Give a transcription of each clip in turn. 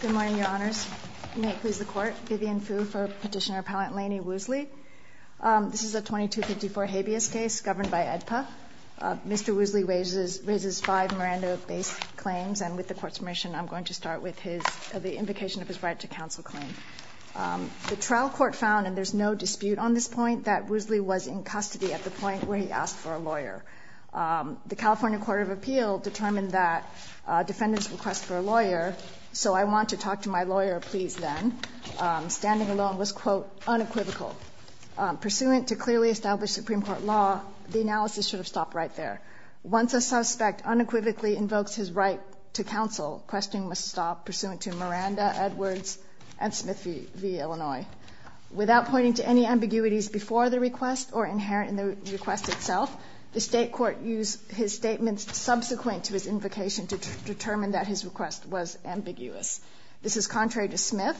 Good morning, Your Honors. May it please the Court. Vivian Fu for Petitioner Appellant Lanny Woosley. This is a 2254 habeas case governed by AEDPA. Mr. Woosley raises five Miranda-based claims, and with the Court's permission, I'm going to start with the invocation of his right to counsel claim. The trial court found, and there's no dispute on this point, that Woosley was in custody at the point where he asked for a lawyer. The California Court of Appeal determined that defendants request for a lawyer, so I want to talk to my lawyer, please, then. Standing alone was, quote, unequivocal. Pursuant to clearly established Supreme Court law, the analysis should have stopped right there. Once a suspect unequivocally invokes his right to counsel, questioning must stop, pursuant to Miranda, Edwards, and Smith v. Illinois. Without pointing to any ambiguities before the request or inherent in the request itself, the state court used his statements subsequent to his invocation to determine that his request was ambiguous. This is contrary to Smith,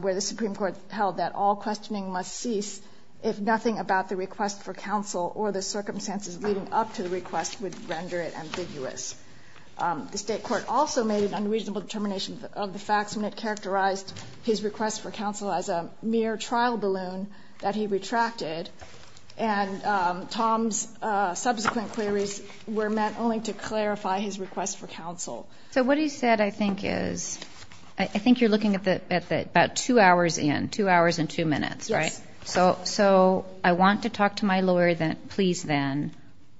where the Supreme Court held that all questioning must cease if nothing about the request for counsel or the circumstances leading up to the request would render it ambiguous. The state court also made an unreasonable determination of the facts, and it characterized his request for counsel as a mere trial balloon that he retracted. And Tom's subsequent queries were meant only to clarify his request for counsel. So what he said, I think, is, I think you're looking at about two hours in, two hours and two minutes, right? Yes. So I want to talk to my lawyer, please, then.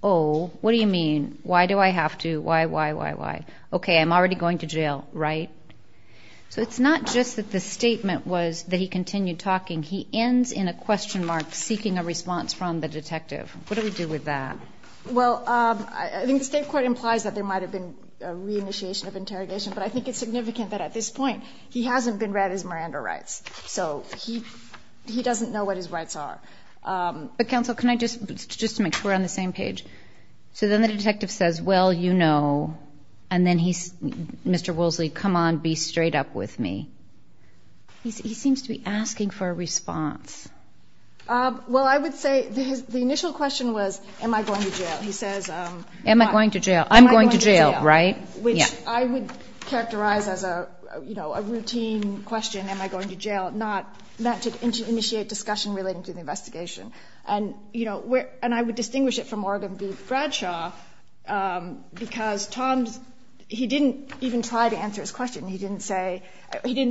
Oh, what do you mean? Why do I have to? Why, why, why, why? Okay, I'm already going to jail, right? So it's not just that the statement was that he continued talking. He ends in a question mark seeking a response from the detective. What do we do with that? Well, I think the state court implies that there might have been a reinitiation of interrogation, but I think it's significant that at this point he hasn't been read his Miranda rights. So he doesn't know what his rights are. But counsel, can I just, just to make sure we're on the same page. So then the detective says, well, you know, and then he's, Mr. Woolsey, come on, be straight up with me. He seems to be asking for a response. Well, I would say the initial question was, am I going to jail? He says, am I going to jail? I'm going to jail, right? Which I would characterize as a, you know, a routine question, am I going to jail? Not to initiate discussion relating to the investigation. And, you know, and I would distinguish it from Morgan v. Bradshaw because Tom, he didn't even try to answer his question. He didn't say, you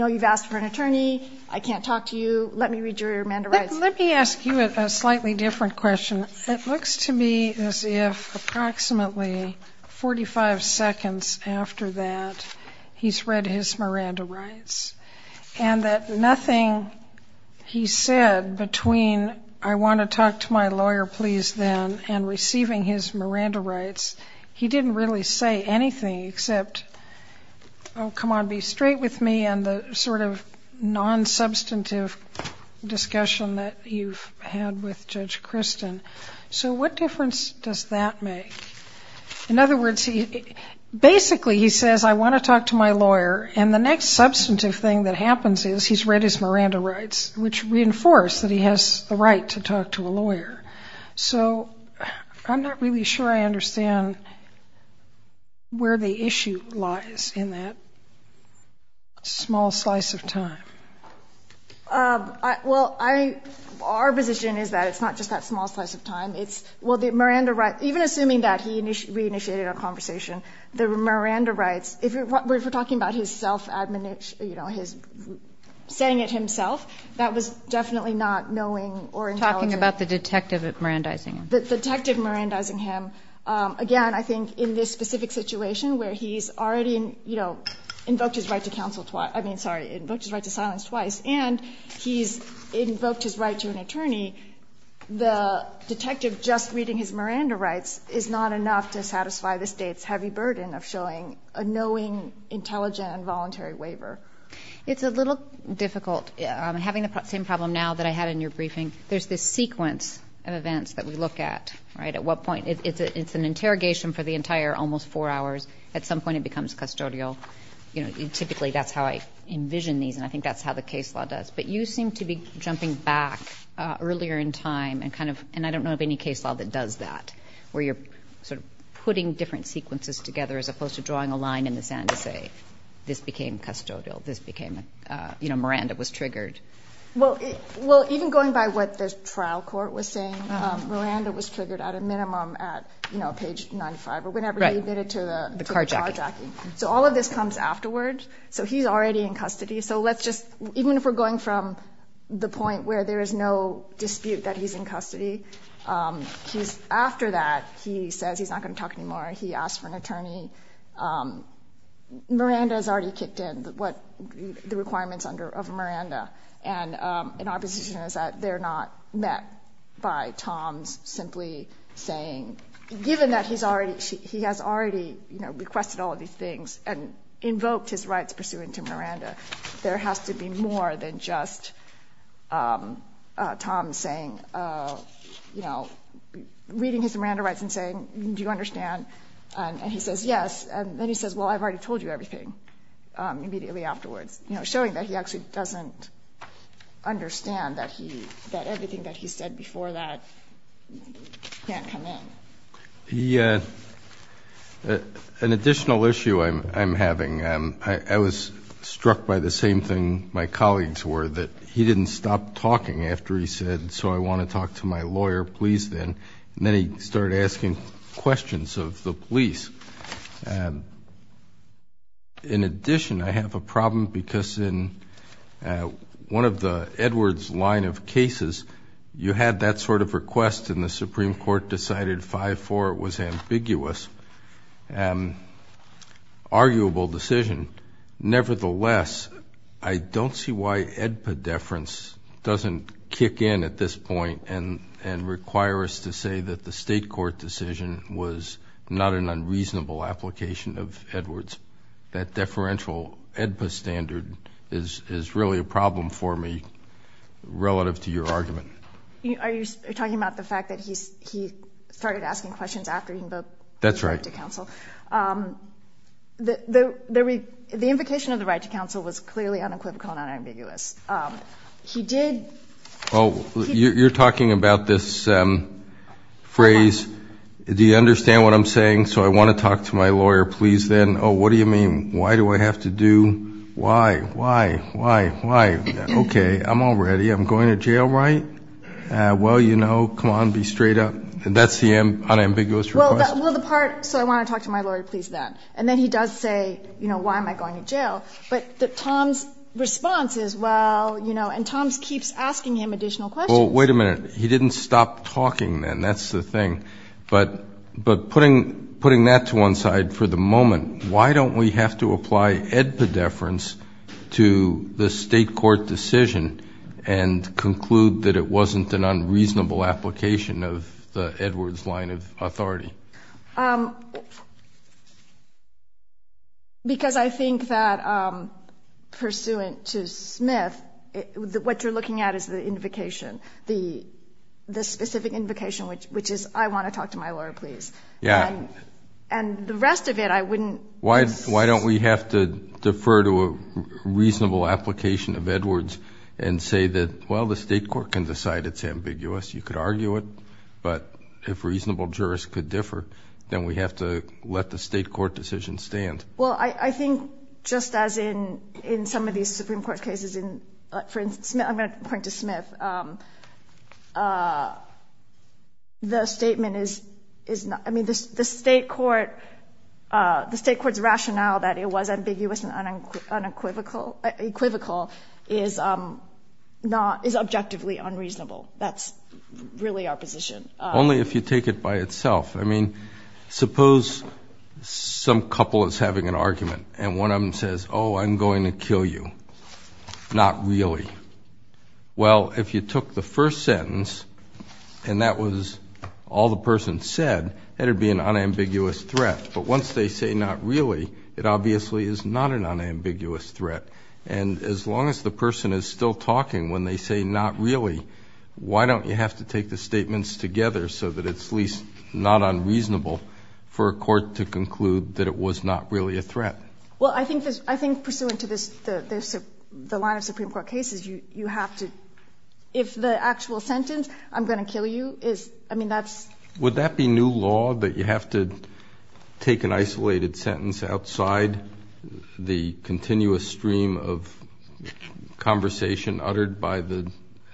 know, you've asked for an attorney. I can't talk to you. Let me read your Miranda rights. Let me ask you a slightly different question. It looks to me as if approximately 45 seconds after that, he's read his Miranda rights. And that nothing he said between I want to talk to my lawyer, please, then, and receiving his Miranda rights, he didn't really say anything except, oh, come on, be straight with me, and the sort of non-substantive discussion that you've had with Judge Christin. So what difference does that make? In other words, basically he says, I want to talk to my lawyer, and the next substantive thing that happens is he's read his Miranda rights, which reinforce that he has the right to talk to a lawyer. So I'm not really sure I understand where the issue lies in that small slice of time. Well, our position is that it's not just that small slice of time. It's, well, the Miranda rights, even assuming that he re-initiated our conversation, the Miranda rights, if we're talking about his self-admonish, you know, his saying it himself, that was definitely not knowing or intelligent. You're talking about the detective at Mirandizingham. The detective at Mirandizingham, again, I think in this specific situation where he's already, you know, invoked his right to counsel twice, I mean, sorry, invoked his right to silence twice, and he's invoked his right to an attorney, the detective just reading his Miranda rights is not enough to satisfy the State's heavy burden of showing a knowing, intelligent, and voluntary waiver. It's a little difficult. Having the same problem now that I had in your briefing, there's this sequence of events that we look at, right? At what point, it's an interrogation for the entire almost four hours. At some point it becomes custodial. You know, typically that's how I envision these, and I think that's how the case law does. But you seem to be jumping back earlier in time and kind of, and I don't know of any case law that does that, where you're sort of putting different sequences together as opposed to drawing a line in the sand to say this became custodial, this became, you know, Miranda was triggered. Well, even going by what the trial court was saying, Miranda was triggered at a minimum at, you know, page 95, or whenever he admitted to the carjacking. So all of this comes afterwards. So he's already in custody. So let's just, even if we're going from the point where there is no dispute that he's in custody, he's, after that, he says he's not going to talk anymore. He asks for an attorney. Miranda has already kicked in what the requirements under, of Miranda. And our position is that they're not met by Tom simply saying, given that he's already, he has already, you know, requested all of these things and invoked his rights pursuant to Miranda, there has to be more than just Tom saying, you know, reading his Miranda rights and saying, do you understand? And he says, yes. And then he says, well, I've already told you everything immediately afterwards. You know, showing that he actually doesn't understand that he, that everything that he said before that can't come in. The, an additional issue I'm having, I was struck by the same thing my colleagues were, that he didn't stop talking after he said, so I want to talk to my lawyer, please, then. Then he started asking questions of the police. In addition, I have a problem because in one of the Edwards line of cases, you had that sort of request and the Supreme Court decided 5-4, it was ambiguous, arguable decision. Nevertheless, I don't see why Edpedeference doesn't kick in at this point and require us to say that the state court decision was not an unreasonable application of Edwards. That deferential EDPA standard is really a problem for me relative to your argument. Are you talking about the fact that he started asking questions after he invoked the right to counsel? That's right. The invocation of the right to counsel was clearly unequivocal and unambiguous. He did... Oh, you're talking about this phrase, do you understand what I'm saying? So I want to talk to my lawyer, please, then. Oh, what do you mean? Why do I have to do, why, why, why, why? Okay, I'm all ready. I'm going to jail, right? Well, you know, come on, be straight up. That's the unambiguous request? Well, the part, so I want to talk to my lawyer, please, then. And then he does say, you know, why am I going to jail? But Tom's response is, well, you know, and Tom keeps asking him additional questions. Well, wait a minute. He didn't stop talking then, that's the thing. But putting that to one side for the moment, why don't we have to apply EDPA deference to the state court decision and conclude that it wasn't an unreasonable application of the Edwards line of authority? Because I think that pursuant to Smith, what you're looking at is the invocation, the specific invocation, which is I want to talk to my lawyer, please. Yeah. And the rest of it I wouldn't. Why don't we have to defer to a reasonable application of Edwards and say that, well, the state court can decide it's ambiguous, you could argue it, but if reasonable jurists could differ, then we have to let the state court decision stand. Well, I think just as in some of these Supreme Court cases, for instance, I'm going to point to Smith, the statement is not, I mean, the state court, the state court's rationale that it was ambiguous and unequivocal is not, is objectively unreasonable. That's really our position. Only if you take it by itself. I mean, suppose some couple is having an argument and one of them says, oh, I'm going to kill you. Not really. Well, if you took the first sentence and that was all the person said, that would be an unambiguous threat. But once they say not really, it obviously is not an unambiguous threat. And as long as the person is still talking when they say not really, why don't you have to take the statements together so that it's at least not unreasonable for a court to conclude that it was not really a threat? Well, I think pursuant to this, the line of Supreme Court cases, you have to, if the actual sentence, I'm going to kill you, is, I mean, that's. Would that be new law, that you have to take an isolated sentence outside the continuous stream of conversation uttered by the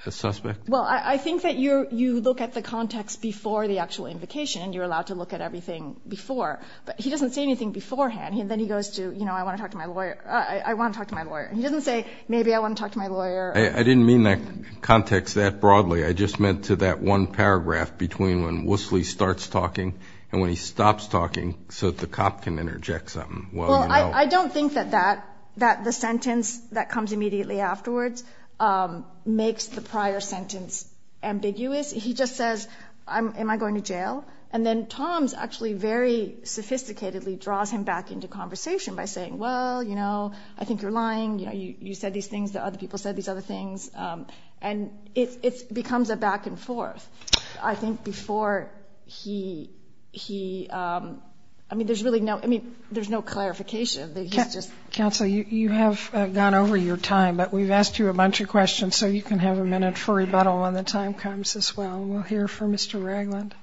suspect? Well, I think that you're, you look at the context before the actual invocation and you're allowed to look at everything before. But he doesn't say anything beforehand. Then he goes to, you know, I want to talk to my lawyer. I want to talk to my lawyer. He doesn't say, maybe I want to talk to my lawyer. I didn't mean that context that broadly. I just meant to that one paragraph between when Woosley starts talking and when he stops talking so that the cop can interject something. Well, I don't think that the sentence that comes immediately afterwards makes the prior sentence ambiguous. He just says, am I going to jail? And then Tom actually very sophisticatedly draws him back into conversation by saying, well, you know, I think you're lying. You know, you said these things. The other people said these other things. And it becomes a back and forth. I think before he, I mean, there's really no, I mean, there's no clarification. Counsel, you have gone over your time, but we've asked you a bunch of questions, so you can have a minute for rebuttal when the time comes as well. And we'll hear from Mr. Ragland.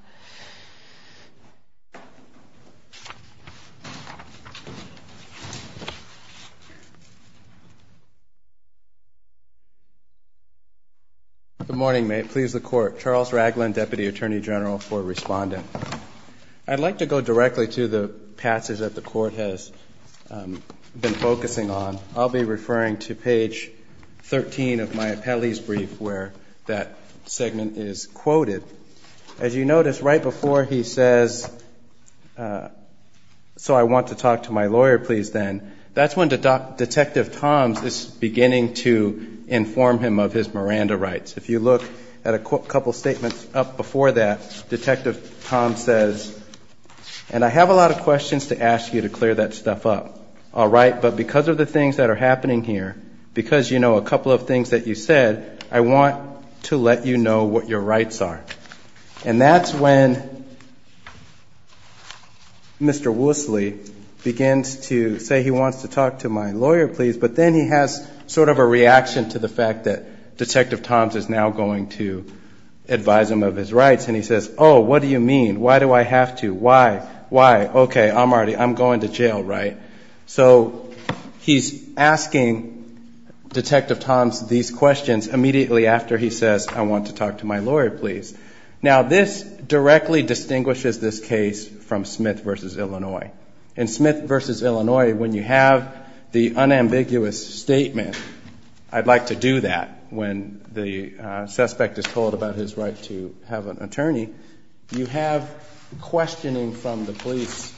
Good morning. May it please the Court. Charles Ragland, Deputy Attorney General for Respondent. I'd like to go directly to the passage that the Court has been focusing on. I'll be referring to page 13 of my appellee's brief where that segment is quoted. As you notice, right before he says, so I want to talk to my lawyer, please, then, that's when Detective Toms is beginning to inform him of his Miranda rights. If you look at a couple statements up before that, Detective Toms says, and I have a lot of questions to ask you to clear that stuff up. But because of the things that are happening here, because you know a couple of things that you said, I want to let you know what your rights are. And that's when Mr. Woosley begins to say he wants to talk to my lawyer, please, but then he has sort of a reaction to the fact that Detective Toms is now going to advise him of his rights. And he says, oh, what do you mean? Why do I have to? Why? Why? Okay, I'm already, I'm going to jail, right? So he's asking Detective Toms these questions immediately after he says, I want to talk to my lawyer, please. Now, this directly distinguishes this case from Smith v. Illinois. In Smith v. Illinois, when you have the unambiguous statement, I'd like to do that when the suspect is told about his right to have an attorney, you have questioning from the police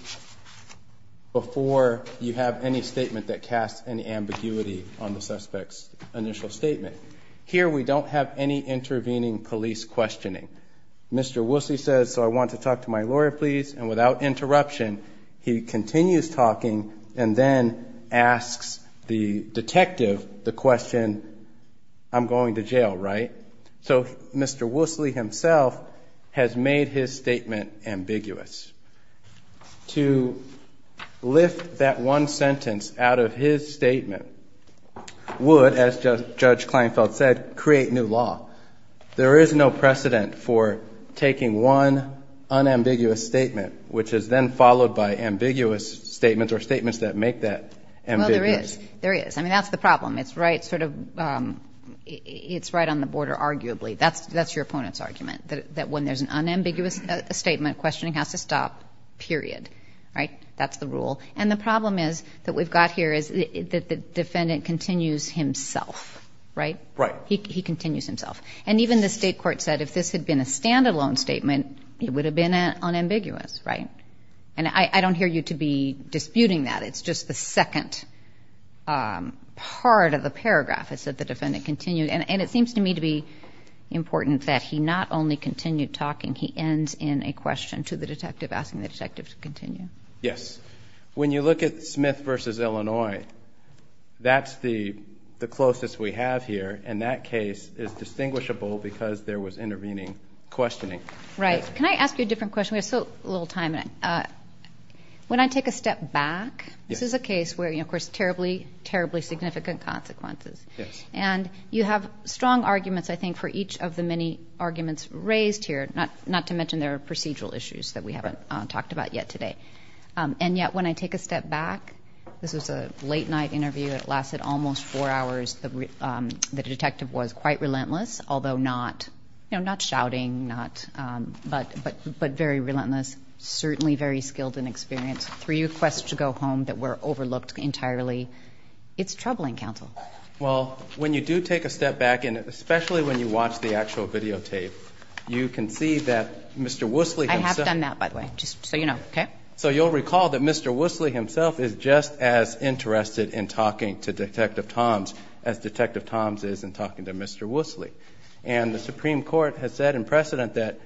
before you have any statement that casts an ambiguity on the suspect's initial statement. Here we don't have any intervening police questioning. Mr. Woosley says, so I want to talk to my lawyer, please. And without interruption, he continues talking and then asks the detective the question, I'm going to jail, right? So Mr. Woosley himself has made his statement ambiguous. To lift that one sentence out of his statement would, as Judge Kleinfeld said, create new law. There is no precedent for taking one unambiguous statement, which is then followed by ambiguous statements or statements that make that ambiguous. Well, there is. There is. I mean, that's the problem. It's right on the border, arguably. That's your opponent's argument, that when there's an unambiguous statement, questioning has to stop, period, right? That's the rule. And the problem is that we've got here is that the defendant continues himself, right? He continues himself. And even the state court said if this had been a standalone statement, it would have been unambiguous, right? And I don't hear you to be disputing that. It's just the second part of the paragraph is that the defendant continued. And it seems to me to be important that he not only continued talking, he ends in a question to the detective asking the detective to continue. Yes. When you look at Smith v. Illinois, that's the closest we have here, and that case is distinguishable because there was intervening questioning. Right. Can I ask you a different question? We have so little time. When I take a step back, this is a case where, of course, terribly, terribly significant consequences. And you have strong arguments, I think, for each of the many arguments raised here, not to mention there are procedural issues that we haven't talked about yet today. And yet, when I take a step back, this was a late night interview that lasted almost four hours. The detective was quite relentless, although not shouting, but very relentless, certainly very skilled in experience. Three requests to go home that were overlooked entirely. It's troubling, counsel. Well, when you do take a step back, and especially when you watch the actual videotape, you can see that Mr. Woosley himself... I have done that, by the way, just so you know. So you'll recall that Mr. Woosley himself is just as interested in talking to Detective Toms as Detective Toms is in talking to Mr. Woosley. And the Supreme Court has said in precedent that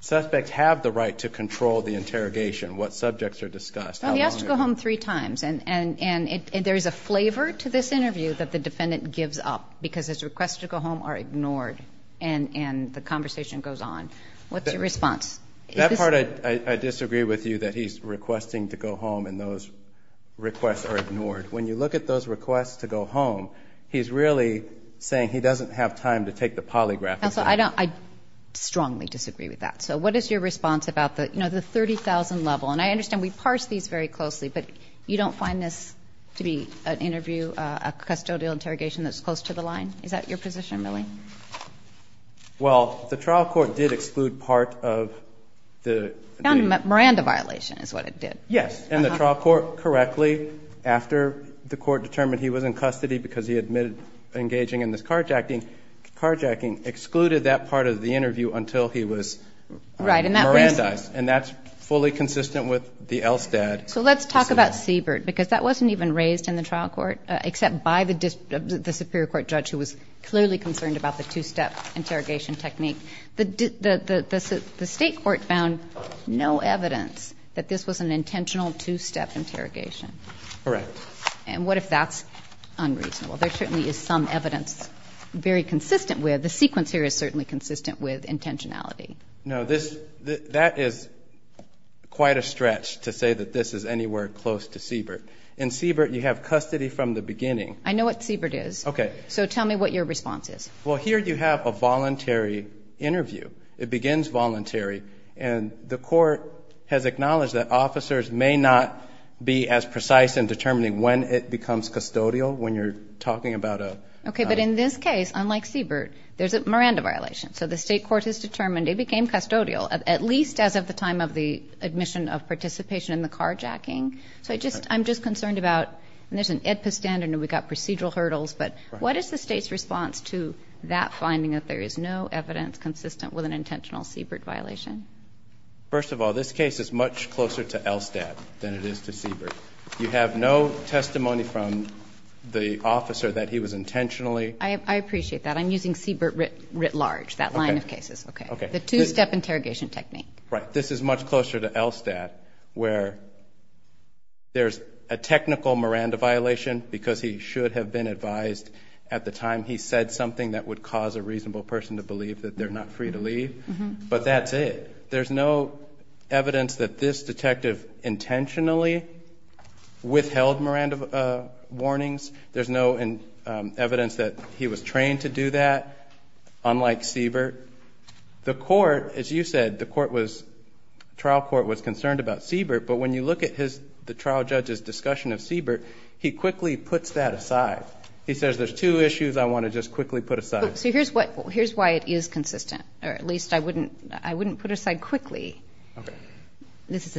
suspects have the right to control the interrogation, what subjects are discussed. He asked to go home three times, and there is a flavor to this interview that the defendant gives up, because his requests to go home are ignored, and the conversation goes on. What's your response? That part I disagree with you, that he's requesting to go home and those requests are ignored. When you look at those requests to go home, he's really saying he doesn't have time to take the polygraph. Counsel, I strongly disagree with that. So what is your response about the 30,000 level? And I understand we parsed these very closely, but you don't find this to be an interview, a custodial interrogation that's close to the line? Is that your position, really? Well, the trial court did exclude part of the... The Miranda violation is what it did. Yes, and the trial court correctly, after the court determined he was in custody because he admitted engaging in this carjacking, carjacking excluded that part of the interview until he was Mirandized, and that's fully consistent with the Elstad... So let's talk about Siebert, because that wasn't even raised in the trial court, except by the Superior Court judge who was clearly concerned about the two-step interrogation technique. The State court found no evidence that this was an intentional two-step interrogation. Correct. And what if that's unreasonable? There certainly is some evidence very consistent with, the sequence here is certainly consistent with intentionality. No, that is quite a stretch to say that this is anywhere close to Siebert. In Siebert, you have custody from the beginning. I know what Siebert is. Okay. So tell me what your response is. Well, here you have a voluntary interview. It begins voluntary, and the court has acknowledged that officers may not be as precise in determining when it becomes custodial, when you're talking about a... Okay, but in this case, unlike Siebert, there's a Miranda violation. So the State court has determined it became custodial, at least as of the time of the admission of participation in the carjacking. So I'm just concerned about, and there's an EDPA standard, and we've got procedural hurdles, but what is the State's response to that finding, that there is no evidence consistent with an intentional Siebert violation? First of all, this case is much closer to Elstad than it is to Siebert. You have no testimony from the officer that he was intentionally... I appreciate that. I'm using Siebert writ large, that line of cases. Okay. Okay. The two-step interrogation technique. Right. This is much closer to Elstad, where there's a technical Miranda violation because he should have been advised at the time he said something that would cause a reasonable person to believe that they're not free to leave, but that's it. There's no evidence that this detective intentionally withheld Miranda warnings. There's no evidence that he was trained to do that, unlike Siebert. The court, as you said, the trial court was concerned about Siebert, but when you look at the trial judge's discussion of Siebert, he quickly puts that aside. He says, there's two issues I want to just quickly put aside. So here's why it is consistent, or at least I wouldn't put aside quickly. Okay. This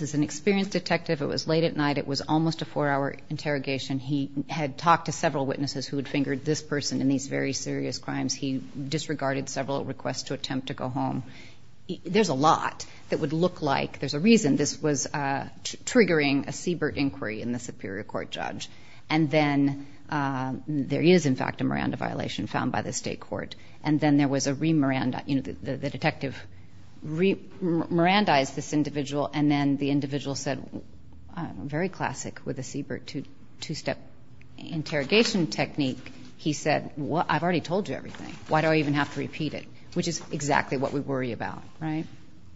is an experienced detective. It was late at night. It was almost a four-hour interrogation. He had talked to several witnesses who had fingered this person in these very serious crimes. He disregarded several requests to attempt to go home. There's a lot that would look like there's a reason this was triggering a Siebert inquiry in the superior court judge, and then there is, in fact, a Miranda violation found by the state court, and then there was a re-Miranda, you know, the detective re-Mirandaized this individual, and then the individual said, very classic with the Siebert two-step interrogation technique, he said, I've already told you everything. Why do I even have to repeat it, which is exactly what we worry about, right?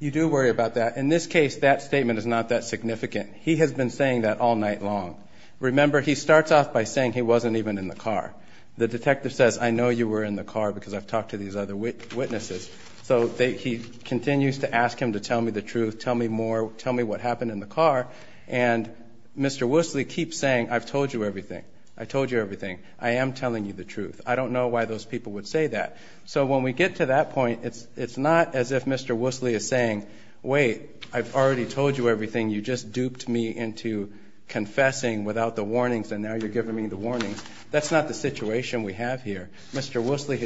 You do worry about that. In this case, that statement is not that significant. He has been saying that all night long. Remember, he starts off by saying he wasn't even in the car. The detective says, I know you were in the car because I've talked to these other witnesses. So he continues to ask him to tell me the truth, tell me more, tell me what happened in the car, and Mr. Woosley keeps saying, I've told you everything. I told you everything. I am telling you the truth. I don't know why those people would say that. So when we get to that point, it's not as if Mr. Woosley is saying, wait, I've already told you everything. You just duped me into confessing without the warnings, and now you're giving me the warnings. That's not the situation we have here. Mr. Woosley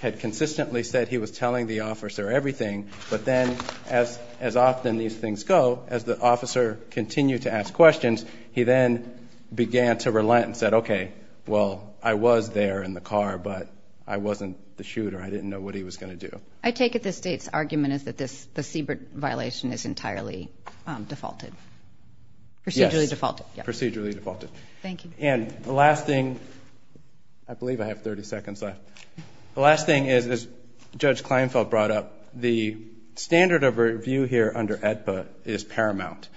had consistently said he was telling the officer everything, but then as often these things go, as the officer continued to ask questions, he then began to relent and said, okay, well, I was there in the car, but I wasn't the shooter. I didn't know what he was going to do. I take it the State's argument is that the Siebert violation is entirely defaulted, procedurally defaulted. Yes, procedurally defaulted. Thank you. And the last thing, I believe I have 30 seconds left. The last thing is, as Judge Kleinfeld brought up, the standard of review here under AEDPA is paramount.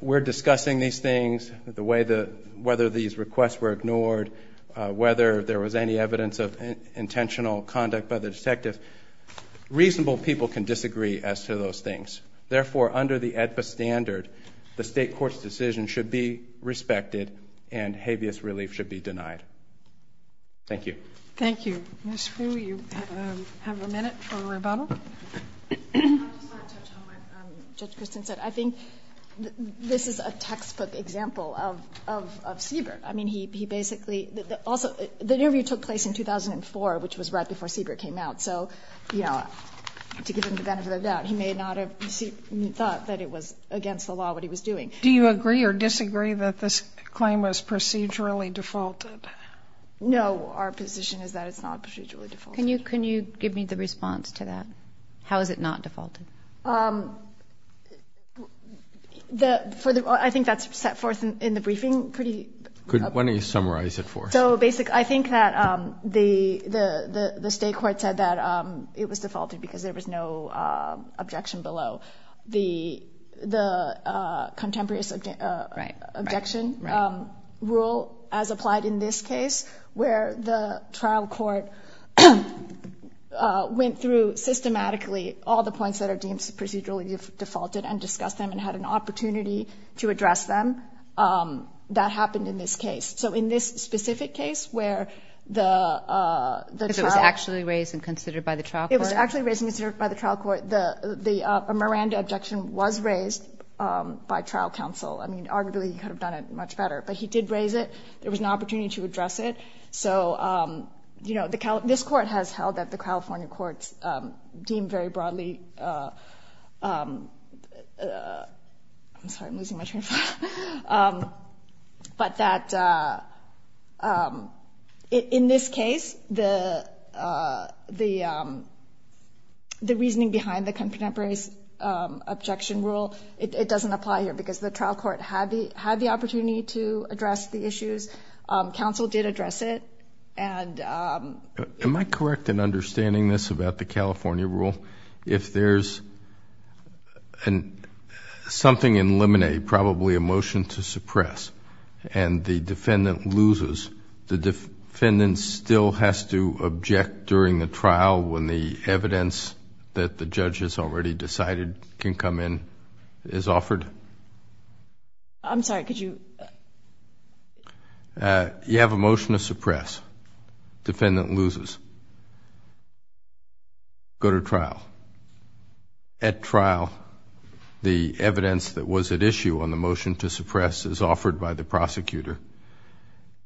We're discussing these things, the way that whether these requests were ignored, whether there was any evidence of intentional conduct by the detective. Reasonable people can disagree as to those things. Therefore, under the AEDPA standard, the State court's decision should be respected and habeas relief should be denied. Thank you. Thank you. Ms. Fu, you have a minute for a rebuttal. I just want to touch on what Judge Christin said. I think this is a textbook example of Siebert. I mean, he basically also the interview took place in 2004, which was right before Siebert came out. So, you know, to give him the benefit of the doubt, he may not have thought that it was against the law what he was doing. Do you agree or disagree that this claim was procedurally defaulted? No. Our position is that it's not procedurally defaulted. Can you give me the response to that? How is it not defaulted? I think that's set forth in the briefing pretty. Why don't you summarize it for us? So basically I think that the State court said that it was defaulted because there was no objection below. The contemporary objection rule as applied in this case where the trial court went through systematically all the points that are deemed procedurally defaulted and discussed them and had an opportunity to address them. That happened in this case. So in this specific case where the trial. Because it was actually raised and considered by the trial court. It was actually raised and considered by the trial court. The Miranda objection was raised by trial counsel. I mean, arguably he could have done it much better, but he did raise it. There was an opportunity to address it. So, you know, this court has held that the California courts deem very broadly. I'm sorry, I'm losing my train of thought. But that in this case, the reasoning behind the contemporary objection rule, it doesn't apply here because the trial court had the opportunity to address the issues. Counsel did address it. Am I correct in understanding this about the California rule? If there's something in limine, probably a motion to suppress, and the defendant loses, the defendant still has to object during the trial when the evidence that the judge has already decided can come in is offered? I'm sorry, could you? You have a motion to suppress. Defendant loses. Go to trial. At trial, the evidence that was at issue on the motion to suppress is offered by the prosecutor.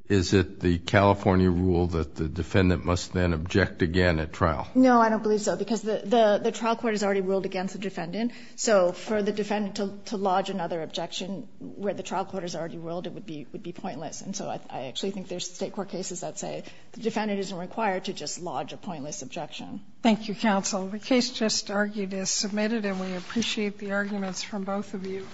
Is it the California rule that the defendant must then object again at trial? No, I don't believe so because the trial court has already ruled against the defendant. So for the defendant to lodge another objection where the trial court has already ruled, it would be pointless. And so I actually think there's state court cases that say the defendant isn't required to just lodge a pointless objection. Thank you, counsel. The case just argued is submitted, and we appreciate the arguments from both of you.